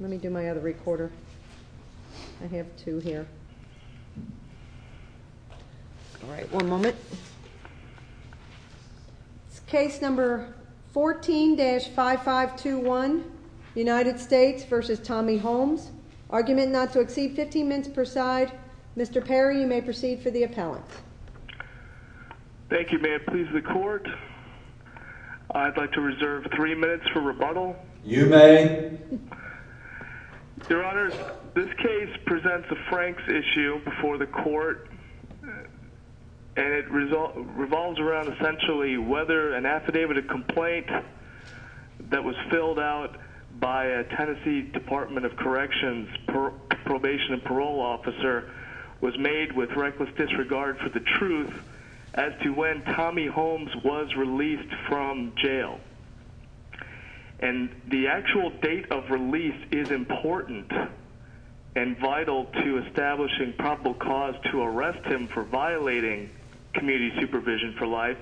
Let me do my other recorder. I have two here. All right. One moment. It's case number 14-5521, United States v. Tommy Holmes. Argument not to exceed 15 minutes per side. Mr. Perry, you may proceed for the appellant. Thank you, ma'am. Please the court. I'd like to reserve three minutes for rebuttal. You may. Your Honor, this case presents a Franks issue before the court, and it revolves around essentially whether an affidavit of complaint that was filled out by a Tennessee Department of Corrections probation and parole officer was made with reckless disregard for the truth as to when Tommy Holmes was released from jail. And the actual date of release is important and vital to establishing probable cause to arrest him for violating community supervision for life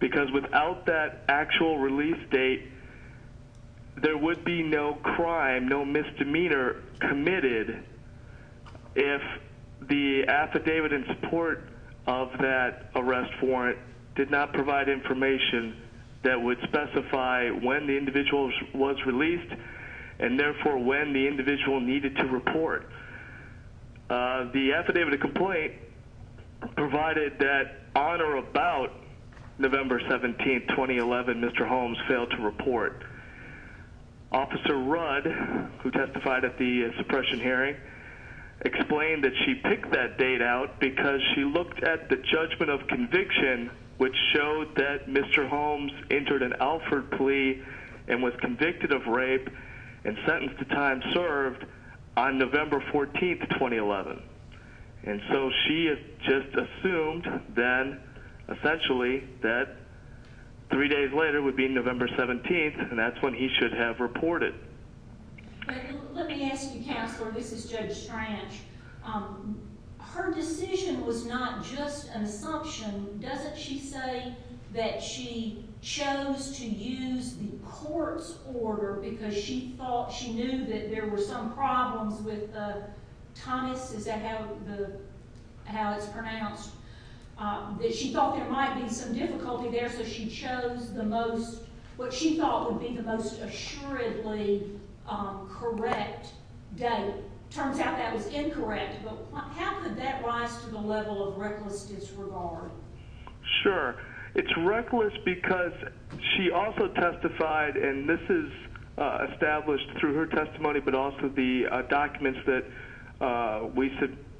because without that actual release date, there would be no crime, no misdemeanor committed if the affidavit in support of that arrest warrant did not provide information that would specify when the individual was released and, therefore, when the individual needed to report. The affidavit of complaint provided that on or about November 17, 2011, Mr. Holmes failed to report. Officer Rudd, who testified at the suppression hearing, explained that she picked that date out because she looked at the judgment of conviction, which showed that Mr. Holmes entered an Alford plea and was convicted of rape and sentenced to time served on November 14, 2011. And so she just assumed then, essentially, that three days later would be November 17, and that's when he should have reported. Let me ask you, Counselor. This is Judge Strange. Her decision was not just an assumption. Doesn't she say that she chose to use the court's order because she thought she knew that there were some problems with Thomas? Is that how it's pronounced? She thought there might be some difficulty there, so she chose what she thought would be the most assuredly correct date. It turns out that was incorrect, but how could that rise to the level of reckless disregard? Sure. It's reckless because she also testified, and this is established through her testimony but also the documents that we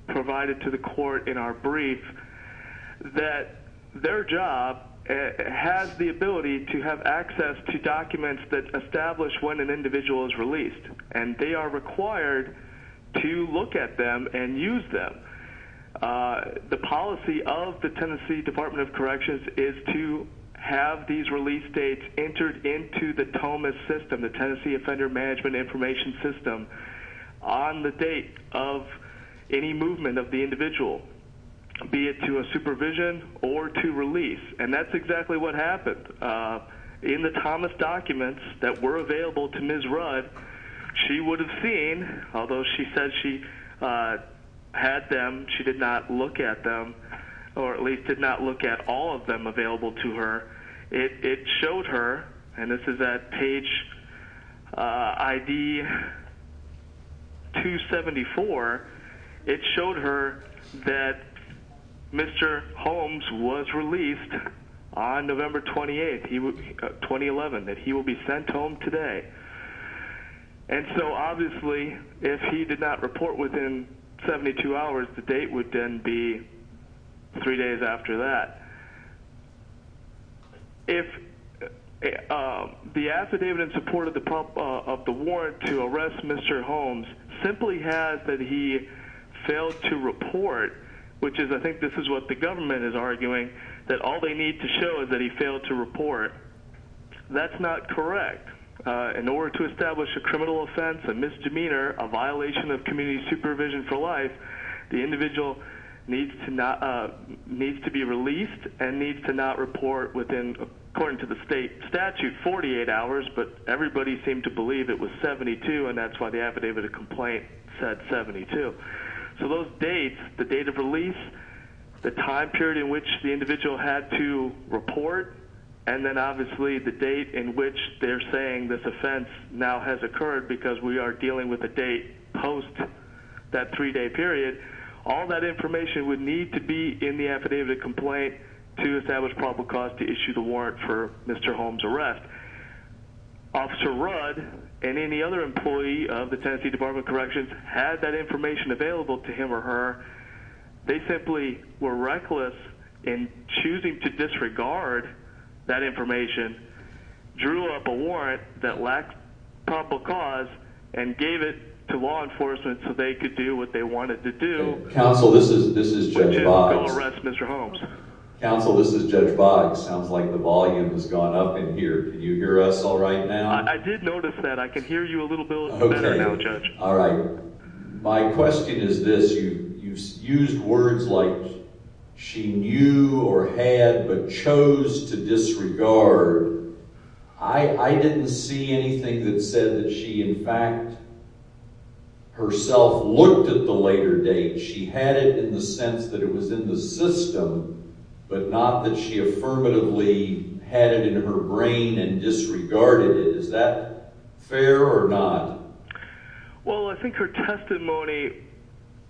provided to the court in our brief, that their job has the ability to have access to documents that establish when an individual is released, and they are required to look at them and use them. The policy of the Tennessee Department of Corrections is to have these release dates entered into the Thomas system, the Tennessee Offender Management Information System, on the date of any movement of the individual, be it to a supervision or to release, and that's exactly what happened. In the Thomas documents that were available to Ms. Rudd, she would have seen, although she said she had them, she did not look at them, or at least did not look at all of them available to her. It showed her, and this is at page 274, it showed her that Mr. Holmes was released on November 28, 2011, that he will be sent home today. And so obviously, if he did not report within 72 hours, the date would then be three days after that. If the affidavit in support of the warrant to arrest Mr. Holmes simply has that he failed to report, which is, I think this is what the government is arguing, that all they need to show is that he failed to report, that's not correct. In order to establish a criminal offense, a misdemeanor, a violation of community supervision for life, the individual needs to be released and needs to not report within, according to the state statute, 48 hours, but everybody seemed to believe it was 72, and that's why the affidavit of complaint said 72. So those dates, the date of release, the time period in which the individual had to report, and then obviously the date in which they're saying this offense now has occurred because we are dealing with a date post that three-day period, all that information would need to be in the affidavit of complaint to establish probable cause to issue the warrant for Mr. Holmes' arrest. Officer Rudd and any other employee of the Tennessee Department of Corrections had that information available to him or her. They simply were reckless in choosing to disregard that information, drew up a warrant that lacked probable cause, and gave it to law enforcement so they could do what they wanted to do. Counsel, this is Judge Boggs. Call arrest Mr. Holmes. Counsel, this is Judge Boggs. Sounds like the volume has gone up in here. Can you hear us all right now? I did notice that. I can hear you a little bit better now, Judge. All right. My question is this. You used words like she knew or had but chose to disregard. I didn't see anything that said that she in fact herself looked at the later date. She had it in the sense that it was in the system, but not that she affirmatively had it in her brain and disregarded it. Is that fair or not? Well, I think her testimony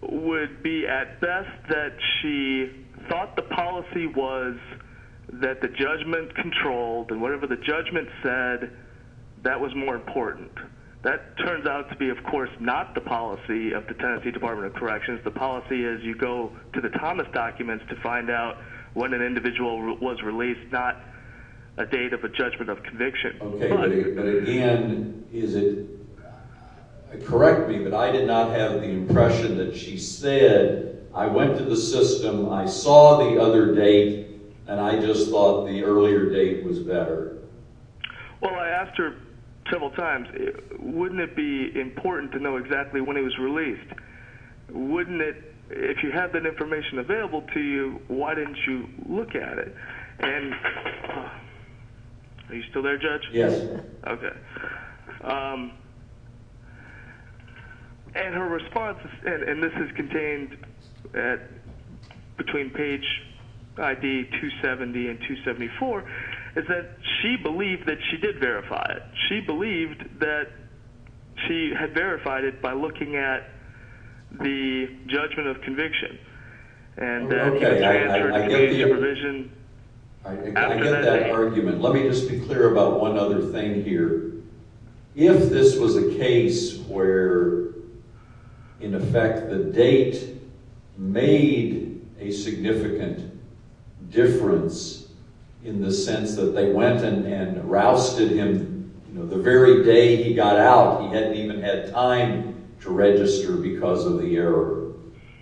would be at best that she thought the policy was that the judgment controlled and whatever the judgment said, that was more important. That turns out to be, of course, not the policy of the Tennessee Department of Corrections. The policy is you go to the Thomas documents to find out when an individual was released, not a date of a judgment of conviction. Okay, but again, correct me, but I did not have the impression that she said, I went to the system, I saw the other date, and I just thought the earlier date was better. Well, I asked her several times, wouldn't it be important to know exactly when he was released? Wouldn't it? If you had that information available to you, why didn't you look at it? And are you still there, Judge? And her response, and this is contained between page ID 270 and 274, is that she believed that she did verify it. She believed that she had verified it by looking at the judgment of conviction. Okay, I get that argument. Let me just be clear about one other thing here. If this was a case where, in effect, the date made a significant difference in the sense that they went and rousted him the very day he got out, he hadn't even had time to register because of the error,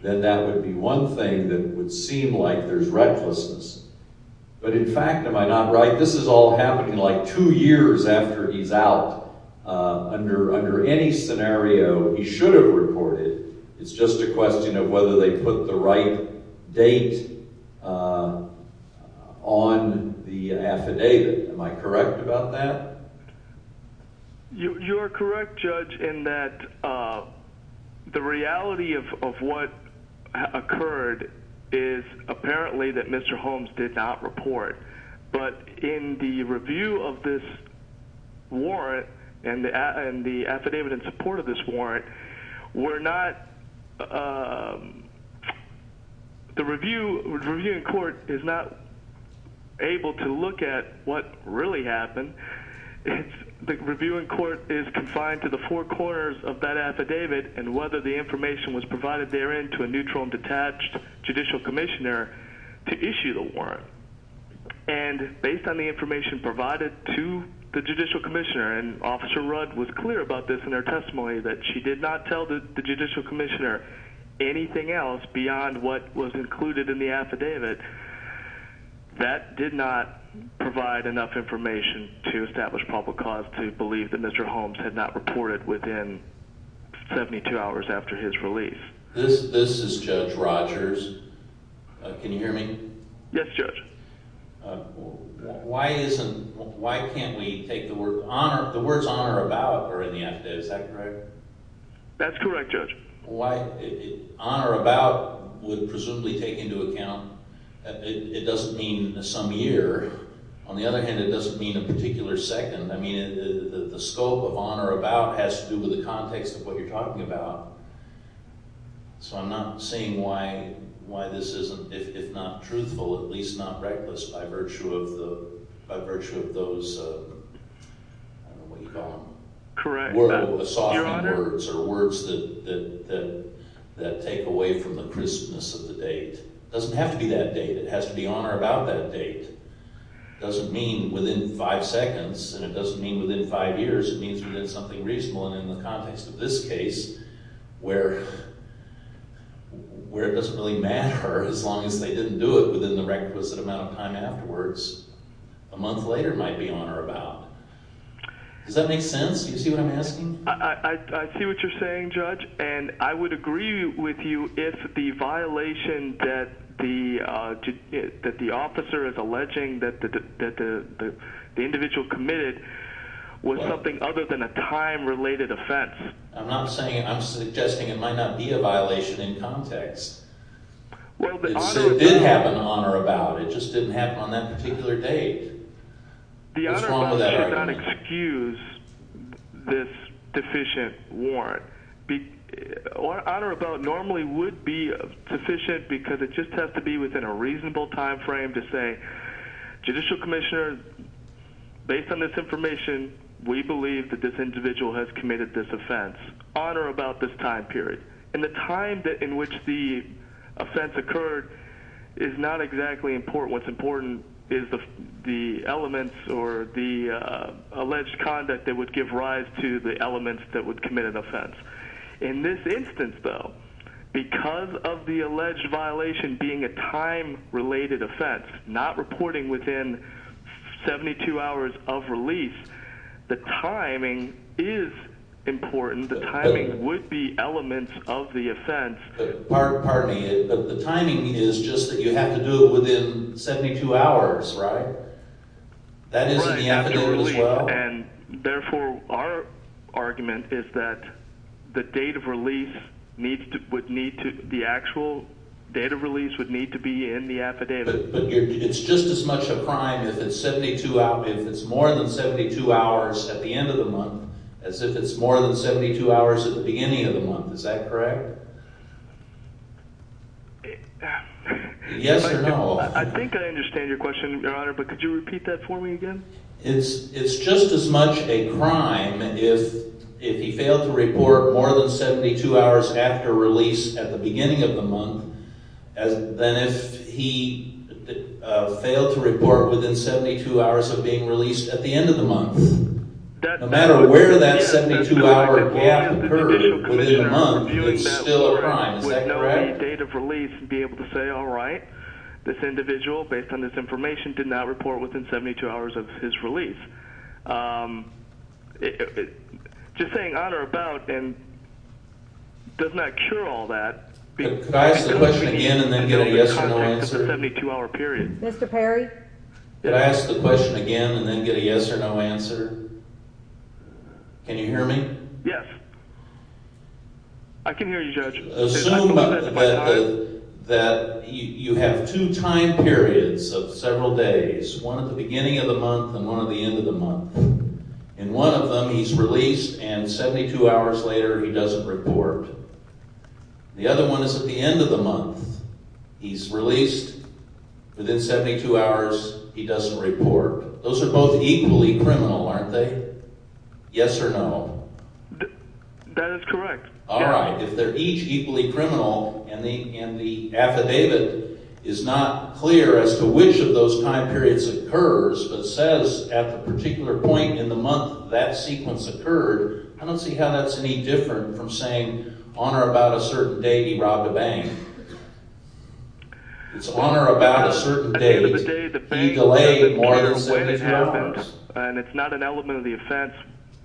then that would be one thing that would seem like there's recklessness. But in fact, am I not right? This is all happening like two years after he's out. Under any scenario, he should have reported. It's just a question of whether they put the right date on the affidavit. Am I correct about that? You're correct, Judge, in that the reality of what occurred is apparently that Mr. Holmes did not report. But in the review of this warrant and the affidavit in support of this warrant, we're not – the review in court is not able to look at what really happened. The review in court is confined to the four corners of that affidavit and whether the information was provided therein to a neutral and detached judicial commissioner to issue the warrant. And based on the information provided to the judicial commissioner, and Officer Rudd was clear about this in her testimony, that she did not tell the judicial commissioner anything else beyond what was included in the affidavit. That did not provide enough information to establish public cause to believe that Mr. Holmes had not reported within 72 hours after his release. This is Judge Rogers. Can you hear me? Yes, Judge. Why isn't – why can't we take the word – the words honor about are in the affidavit, is that correct? Why – honor about would presumably take into account – it doesn't mean some year. On the other hand, it doesn't mean a particular second. I mean, the scope of honor about has to do with the context of what you're talking about. So I'm not saying why this isn't, if not truthful, at least not reckless by virtue of the – by virtue of those – I don't know what you call them. Correct, Your Honor. Where it doesn't really matter as long as they didn't do it within the requisite amount of time afterwards. A month later might be honor about. Does that make sense? Do you see what I'm asking? I see what you're saying, Judge, and I would agree with you if the violation that the officer is alleging that the individual committed was something other than a time-related offense. I'm not saying – I'm suggesting it might not be a violation in context. It did happen on honor about. It just didn't happen on that particular date. The honor about should not excuse this deficient warrant. Honor about normally would be sufficient because it just has to be within a reasonable timeframe to say, judicial commissioner, based on this information, we believe that this individual has committed this offense. Honor about this time period. And the time in which the offense occurred is not exactly important. What's important is the elements or the alleged conduct that would give rise to the elements that would commit an offense. In this instance, though, because of the alleged violation being a time-related offense, not reporting within 72 hours of release, the timing is important. The timing would be elements of the offense. Pardon me. The timing is just that you have to do it within 72 hours, right? That is in the affidavit as well? And therefore, our argument is that the date of release would need to – the actual date of release would need to be in the affidavit. But it's just as much a crime if it's more than 72 hours at the end of the month as if it's more than 72 hours at the beginning of the month. Is that correct? Yes or no? I think I understand your question, Your Honor, but could you repeat that for me again? It's just as much a crime if he failed to report more than 72 hours after release at the beginning of the month than if he failed to report within 72 hours of being released at the end of the month. No matter where that 72-hour gap occurs within a month, it's still a crime. Is that correct? Could I ask the question again and then get a yes or no answer? Mr. Perry? Could I ask the question again and then get a yes or no answer? Can you hear me? Assume that you have two time periods of several days, one at the beginning of the month and one at the end of the month. In one of them, he's released and 72 hours later, he doesn't report. The other one is at the end of the month. He's released. Within 72 hours, he doesn't report. Those are both equally criminal, aren't they? Yes or no? That is correct. All right. If they're each equally criminal and the affidavit is not clear as to which of those time periods occurs but says at the particular point in the month that sequence occurred, I don't see how that's any different from saying on or about a certain date he robbed a bank. It's on or about a certain date. And it's not an element of the offense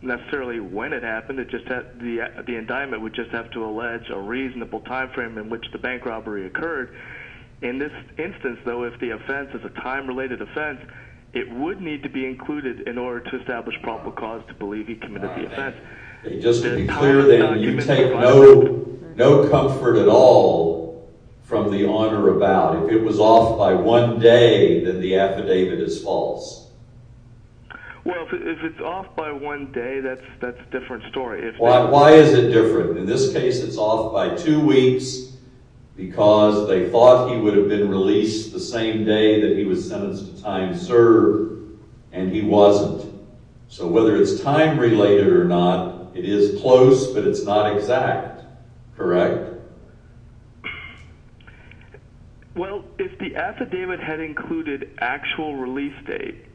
necessarily when it happened. The indictment would just have to allege a reasonable time frame in which the bank robbery occurred. In this instance, though, if the offense is a time-related offense, it would need to be included in order to establish probable cause to believe he committed the offense. Just to be clear then, you take no comfort at all from the on or about. If it was off by one day, then the affidavit is false. Well, if it's off by one day, that's a different story. Why is it different? In this case, it's off by two weeks because they thought he would have been released the same day that he was sentenced to time served, and he wasn't. So whether it's time-related or not, it is close, but it's not exact. Correct? Well, if the affidavit had included actual release date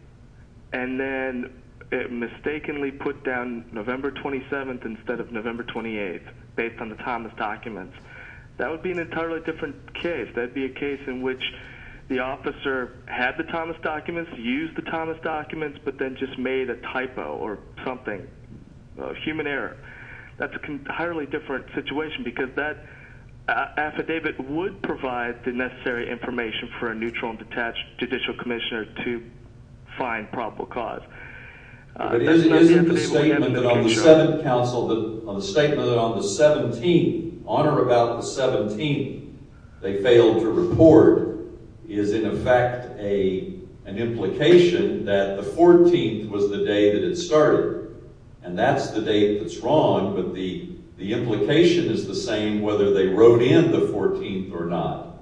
and then it mistakenly put down November 27th instead of November 28th based on the Thomas documents, that would be an entirely different case. That would be a case in which the officer had the Thomas documents, used the Thomas documents, but then just made a typo or something, a human error. That's an entirely different situation because that affidavit would provide the necessary information for a neutral and detached judicial commissioner to find probable cause. But isn't the statement on the 7th counsel, the statement on the 17th, on or about the 17th, they failed to report, is in effect an implication that the 14th was the day that it started. And that's the date that's wrong, but the implication is the same whether they wrote in the 14th or not.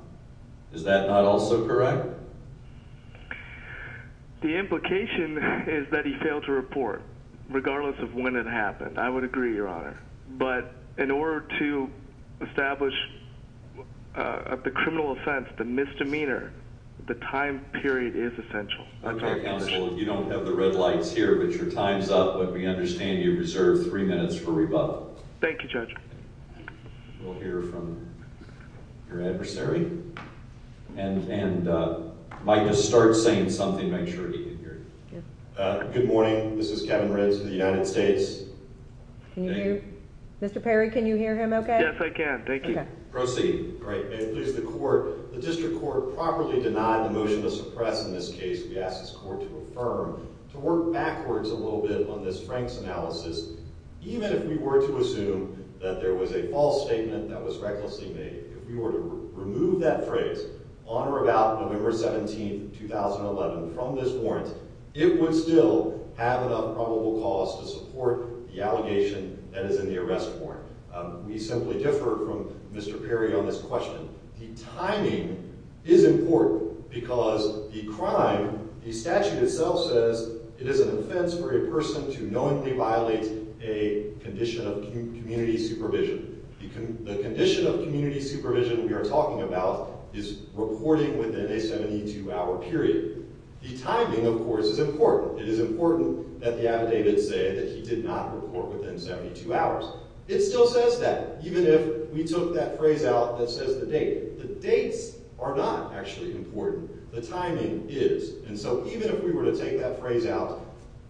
Is that not also correct? The implication is that he failed to report, regardless of when it happened. I would agree, Your Honor. But in order to establish the criminal offense, the misdemeanor, the time period is essential. Okay, counsel, you don't have the red lights here, but your time's up, but we understand you reserve three minutes for rebuttal. Thank you, Judge. We'll hear from your adversary. And Mike, just start saying something. Make sure he can hear you. Good morning. This is Kevin Riggs for the United States. Can you hear? Mr. Perry, can you hear him okay? Yes, I can. Thank you. Proceed. Great. May it please the court, the district court properly denied the motion to suppress in this case. We ask this court to affirm, to work backwards a little bit on this Frank's analysis. Even if we were to assume that there was a false statement that was recklessly made, if we were to remove that phrase on or about November 17, 2011 from this warrant, it would still have enough probable cause to support the allegation that is in the arrest warrant. We simply differ from Mr. Perry on this question. The timing is important because the crime, the statute itself says, it is an offense for a person to knowingly violate a condition of community supervision. The condition of community supervision we are talking about is reporting within a 72-hour period. The timing, of course, is important. It is important that the affidavit say that he did not report within 72 hours. It still says that, even if we took that phrase out that says the date. The dates are not actually important. The timing is. And so even if we were to take that phrase out,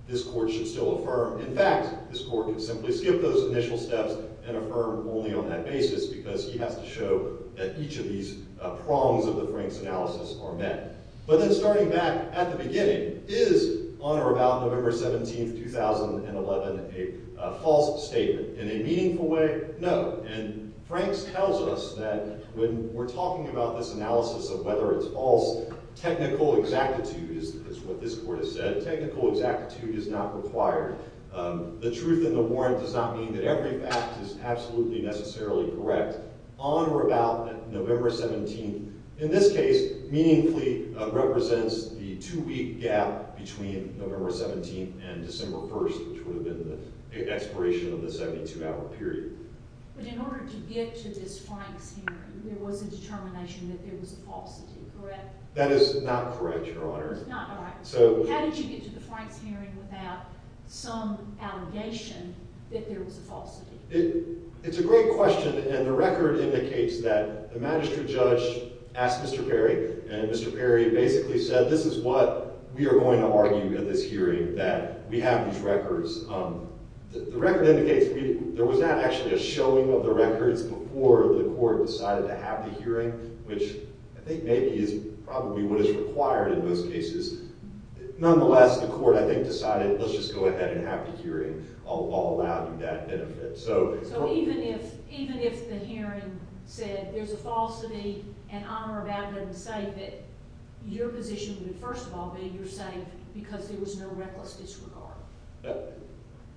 this court should still affirm. In fact, this court can simply skip those initial steps and affirm only on that basis because he has to show that each of these prongs of the Frank's analysis are met. But then starting back at the beginning, is on or about November 17, 2011 a false statement? In a meaningful way, no. And Frank's tells us that when we're talking about this analysis of whether it's false, technical exactitude is what this court has said. Technical exactitude is not required. The truth in the warrant does not mean that every fact is absolutely necessarily correct. On or about November 17, in this case, meaningfully represents the two-week gap between November 17 and December 1, which would have been the expiration of the 72-hour period. But in order to get to this Frank's hearing, there was a determination that there was a falsity, correct? That is not correct, Your Honor. How did you get to the Frank's hearing without some allegation that there was a falsity? It's a great question. And the record indicates that the magistrate judge asked Mr. Perry, and Mr. Perry basically said, this is what we are going to argue in this hearing, that we have these records. The record indicates there was not actually a showing of the records before the court decided to have the hearing, which I think maybe is probably what is required in those cases. Nonetheless, the court, I think, decided, let's just go ahead and have the hearing. I'll allow you that benefit. So even if the hearing said there's a falsity, and I'm rebounding to say that your position would first of all be you're saying because there was no reckless disregard.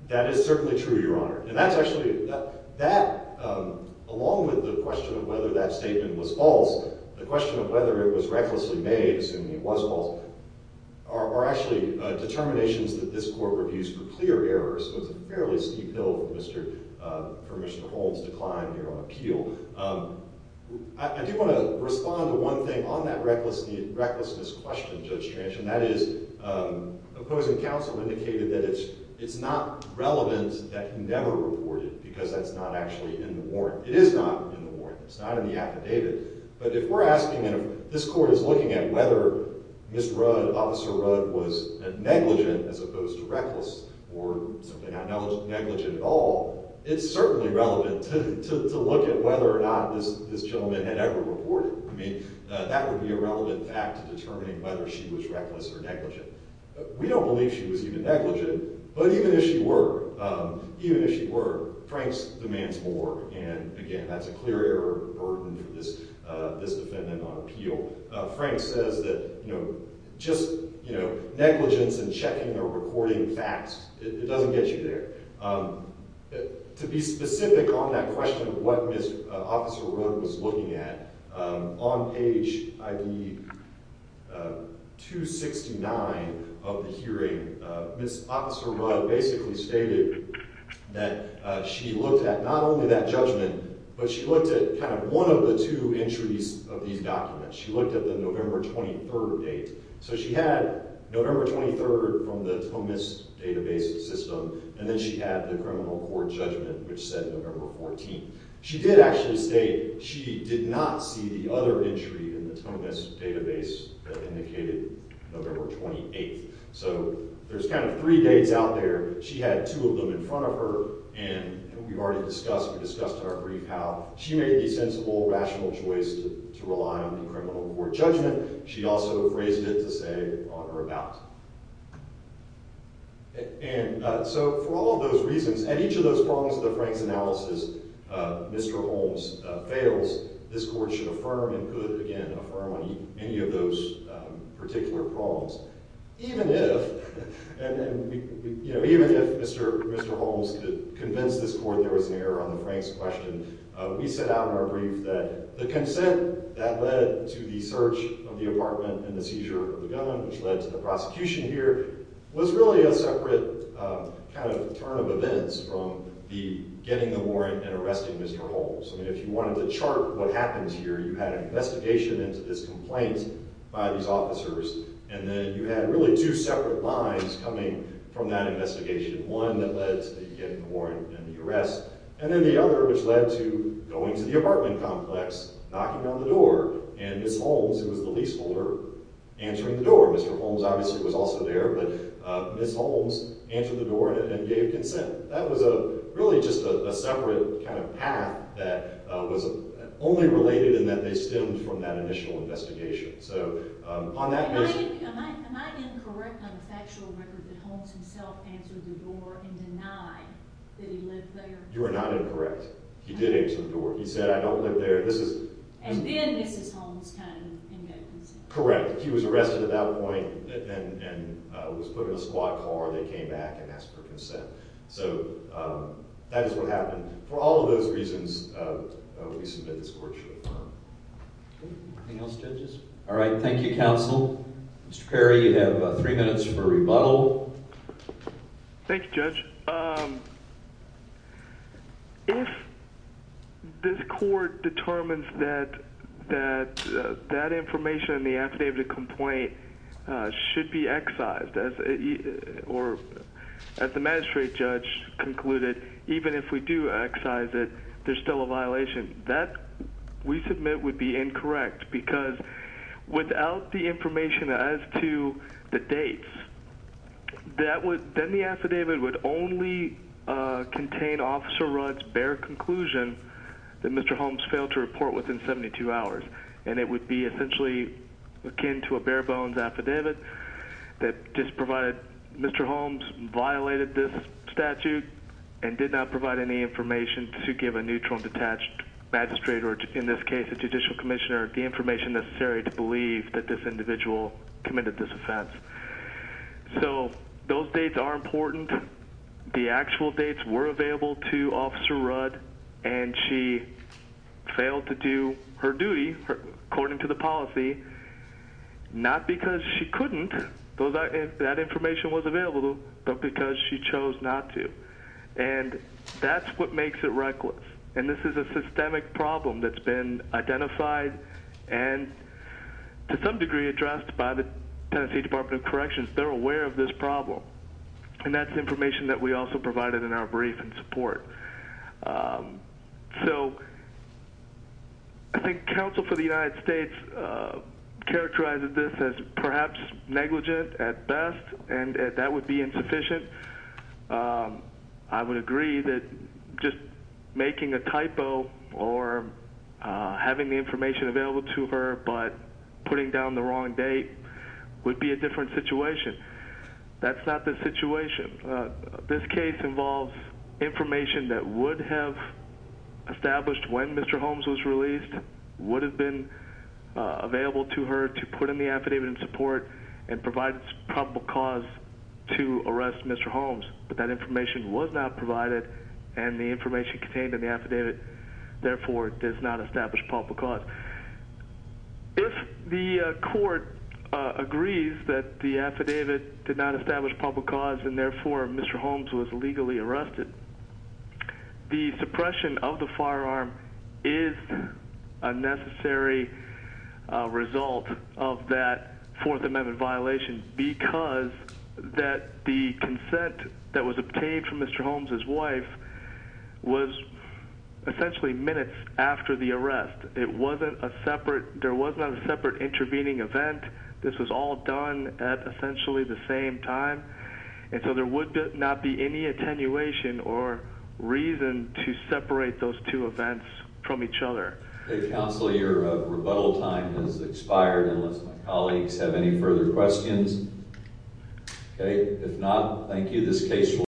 That is certainly true, Your Honor. And that's actually, that, along with the question of whether that statement was false, the question of whether it was recklessly made, assuming it was false, are actually determinations that this court reviews for clear errors. This was a fairly steep hill for Mr. Holmes to climb here on appeal. I do want to respond to one thing on that recklessness question, Judge Trench. And that is, opposing counsel indicated that it's not relevant that he never reported because that's not actually in the warrant. It is not in the warrant. It's not in the affidavit. But if we're asking, and this court is looking at whether Mr. Rudd, Officer Rudd was negligent as opposed to reckless or negligent at all, it's certainly relevant to look at whether or not this gentleman had ever reported. I mean, that would be a relevant fact to determining whether she was reckless or negligent. We don't believe she was even negligent. But even if she were, even if she were, Franks demands more. And again, that's a clear error of this defendant on appeal. Franks says that just negligence and checking or reporting facts, it doesn't get you there. To be specific on that question of what Officer Rudd was looking at, on page 269 of the hearing, Officer Rudd basically stated that she looked at not only that judgment, but she looked at one of the two entries of these documents. She looked at the November 23rd date. So she had November 23rd from the Tomas database system. And then she had the criminal court judgment, which said November 14th. She did actually state she did not see the other entry in the Tomas database that indicated November 28th. So there's kind of three dates out there. She had two of them in front of her. And we've already discussed, we discussed in our brief, how she made the sensible, rational choice to rely on the criminal court judgment. She also phrased it to say, on or about. And so for all of those reasons, and each of those problems in the Franks analysis, Mr. Holmes fails, this court should affirm and could, again, affirm on any of those particular problems. Even if, and you know, even if Mr. Holmes could convince this court there was an error on the Franks question, we set out in our brief that the consent that led to the search of the apartment and the seizure of the gun, which led to the prosecution here, was really a separate kind of turn of events from the getting the warrant and arresting Mr. Holmes. I mean, if you wanted to chart what happens here, you had an investigation into this complaint by these officers, and then you had really two separate lines coming from that investigation. One that led to the getting the warrant and the arrest, and then the other, which led to going to the apartment complex, knocking on the door, and Ms. Holmes, who was the leaseholder, answering the door. Mr. Holmes, obviously, was also there, but Ms. Holmes answered the door and gave consent. That was really just a separate kind of path that was only related in that they stemmed from that initial investigation. So, on that basis... Am I incorrect on the factual record that Holmes himself answered the door and denied that he lived there? You are not incorrect. He did answer the door. He said, I don't live there. And then this is Holmes' kind of emergency. Correct. He was arrested at that point and was put in a squad car and they came back and asked for consent. So, that is what happened. Anything else, judges? All right. Thank you, counsel. Mr. Perry, you have three minutes for rebuttal. Thank you, judge. If this court determines that that information in the affidavit of complaint should be excised, or as the magistrate judge concluded, even if we do excise it, there's still a violation, that, we submit, would be incorrect. Because without the information as to the dates, then the affidavit would only contain Officer Rudd's bare conclusion that Mr. Holmes failed to report within 72 hours. And it would be essentially akin to a bare bones affidavit that just provided Mr. Holmes violated this statute and did not provide any information to give a neutral and detached magistrate, or in this case, a judicial commissioner, the information necessary to believe that this individual committed this offense. So, those dates are important. The actual dates were available to Officer Rudd and she failed to do her duty according to the policy, not because she couldn't, that information was available to her, but because she chose not to. And that's what makes it reckless. And this is a systemic problem that's been identified and to some degree addressed by the Tennessee Department of Corrections. They're aware of this problem. And that's information that we also provided in our brief in support. So, I think counsel for the United States characterized this as perhaps negligent at best, and that would be insufficient. I would agree that just making a typo or having the information available to her, but putting down the wrong date would be a different situation. That's not the situation. This case involves information that would have established when Mr. Holmes was released, would have been available to her to put in the affidavit in support and provide probable cause to arrest Mr. Holmes. But that information was not provided and the information contained in the affidavit, therefore, does not establish probable cause. If the court agrees that the affidavit did not establish probable cause and therefore Mr. Holmes was legally arrested, the suppression of the firearm is a necessary result of that Fourth Amendment violation because that the consent that was obtained from Mr. Holmes' wife was essentially minutes after the arrest. It wasn't a separate, there was not a separate intervening event. This was all done at essentially the same time. And so there would not be any attenuation or reason to separate those two events from each other. Okay, counsel, your rebuttal time has expired unless my colleagues have any further questions. Okay, if not, thank you.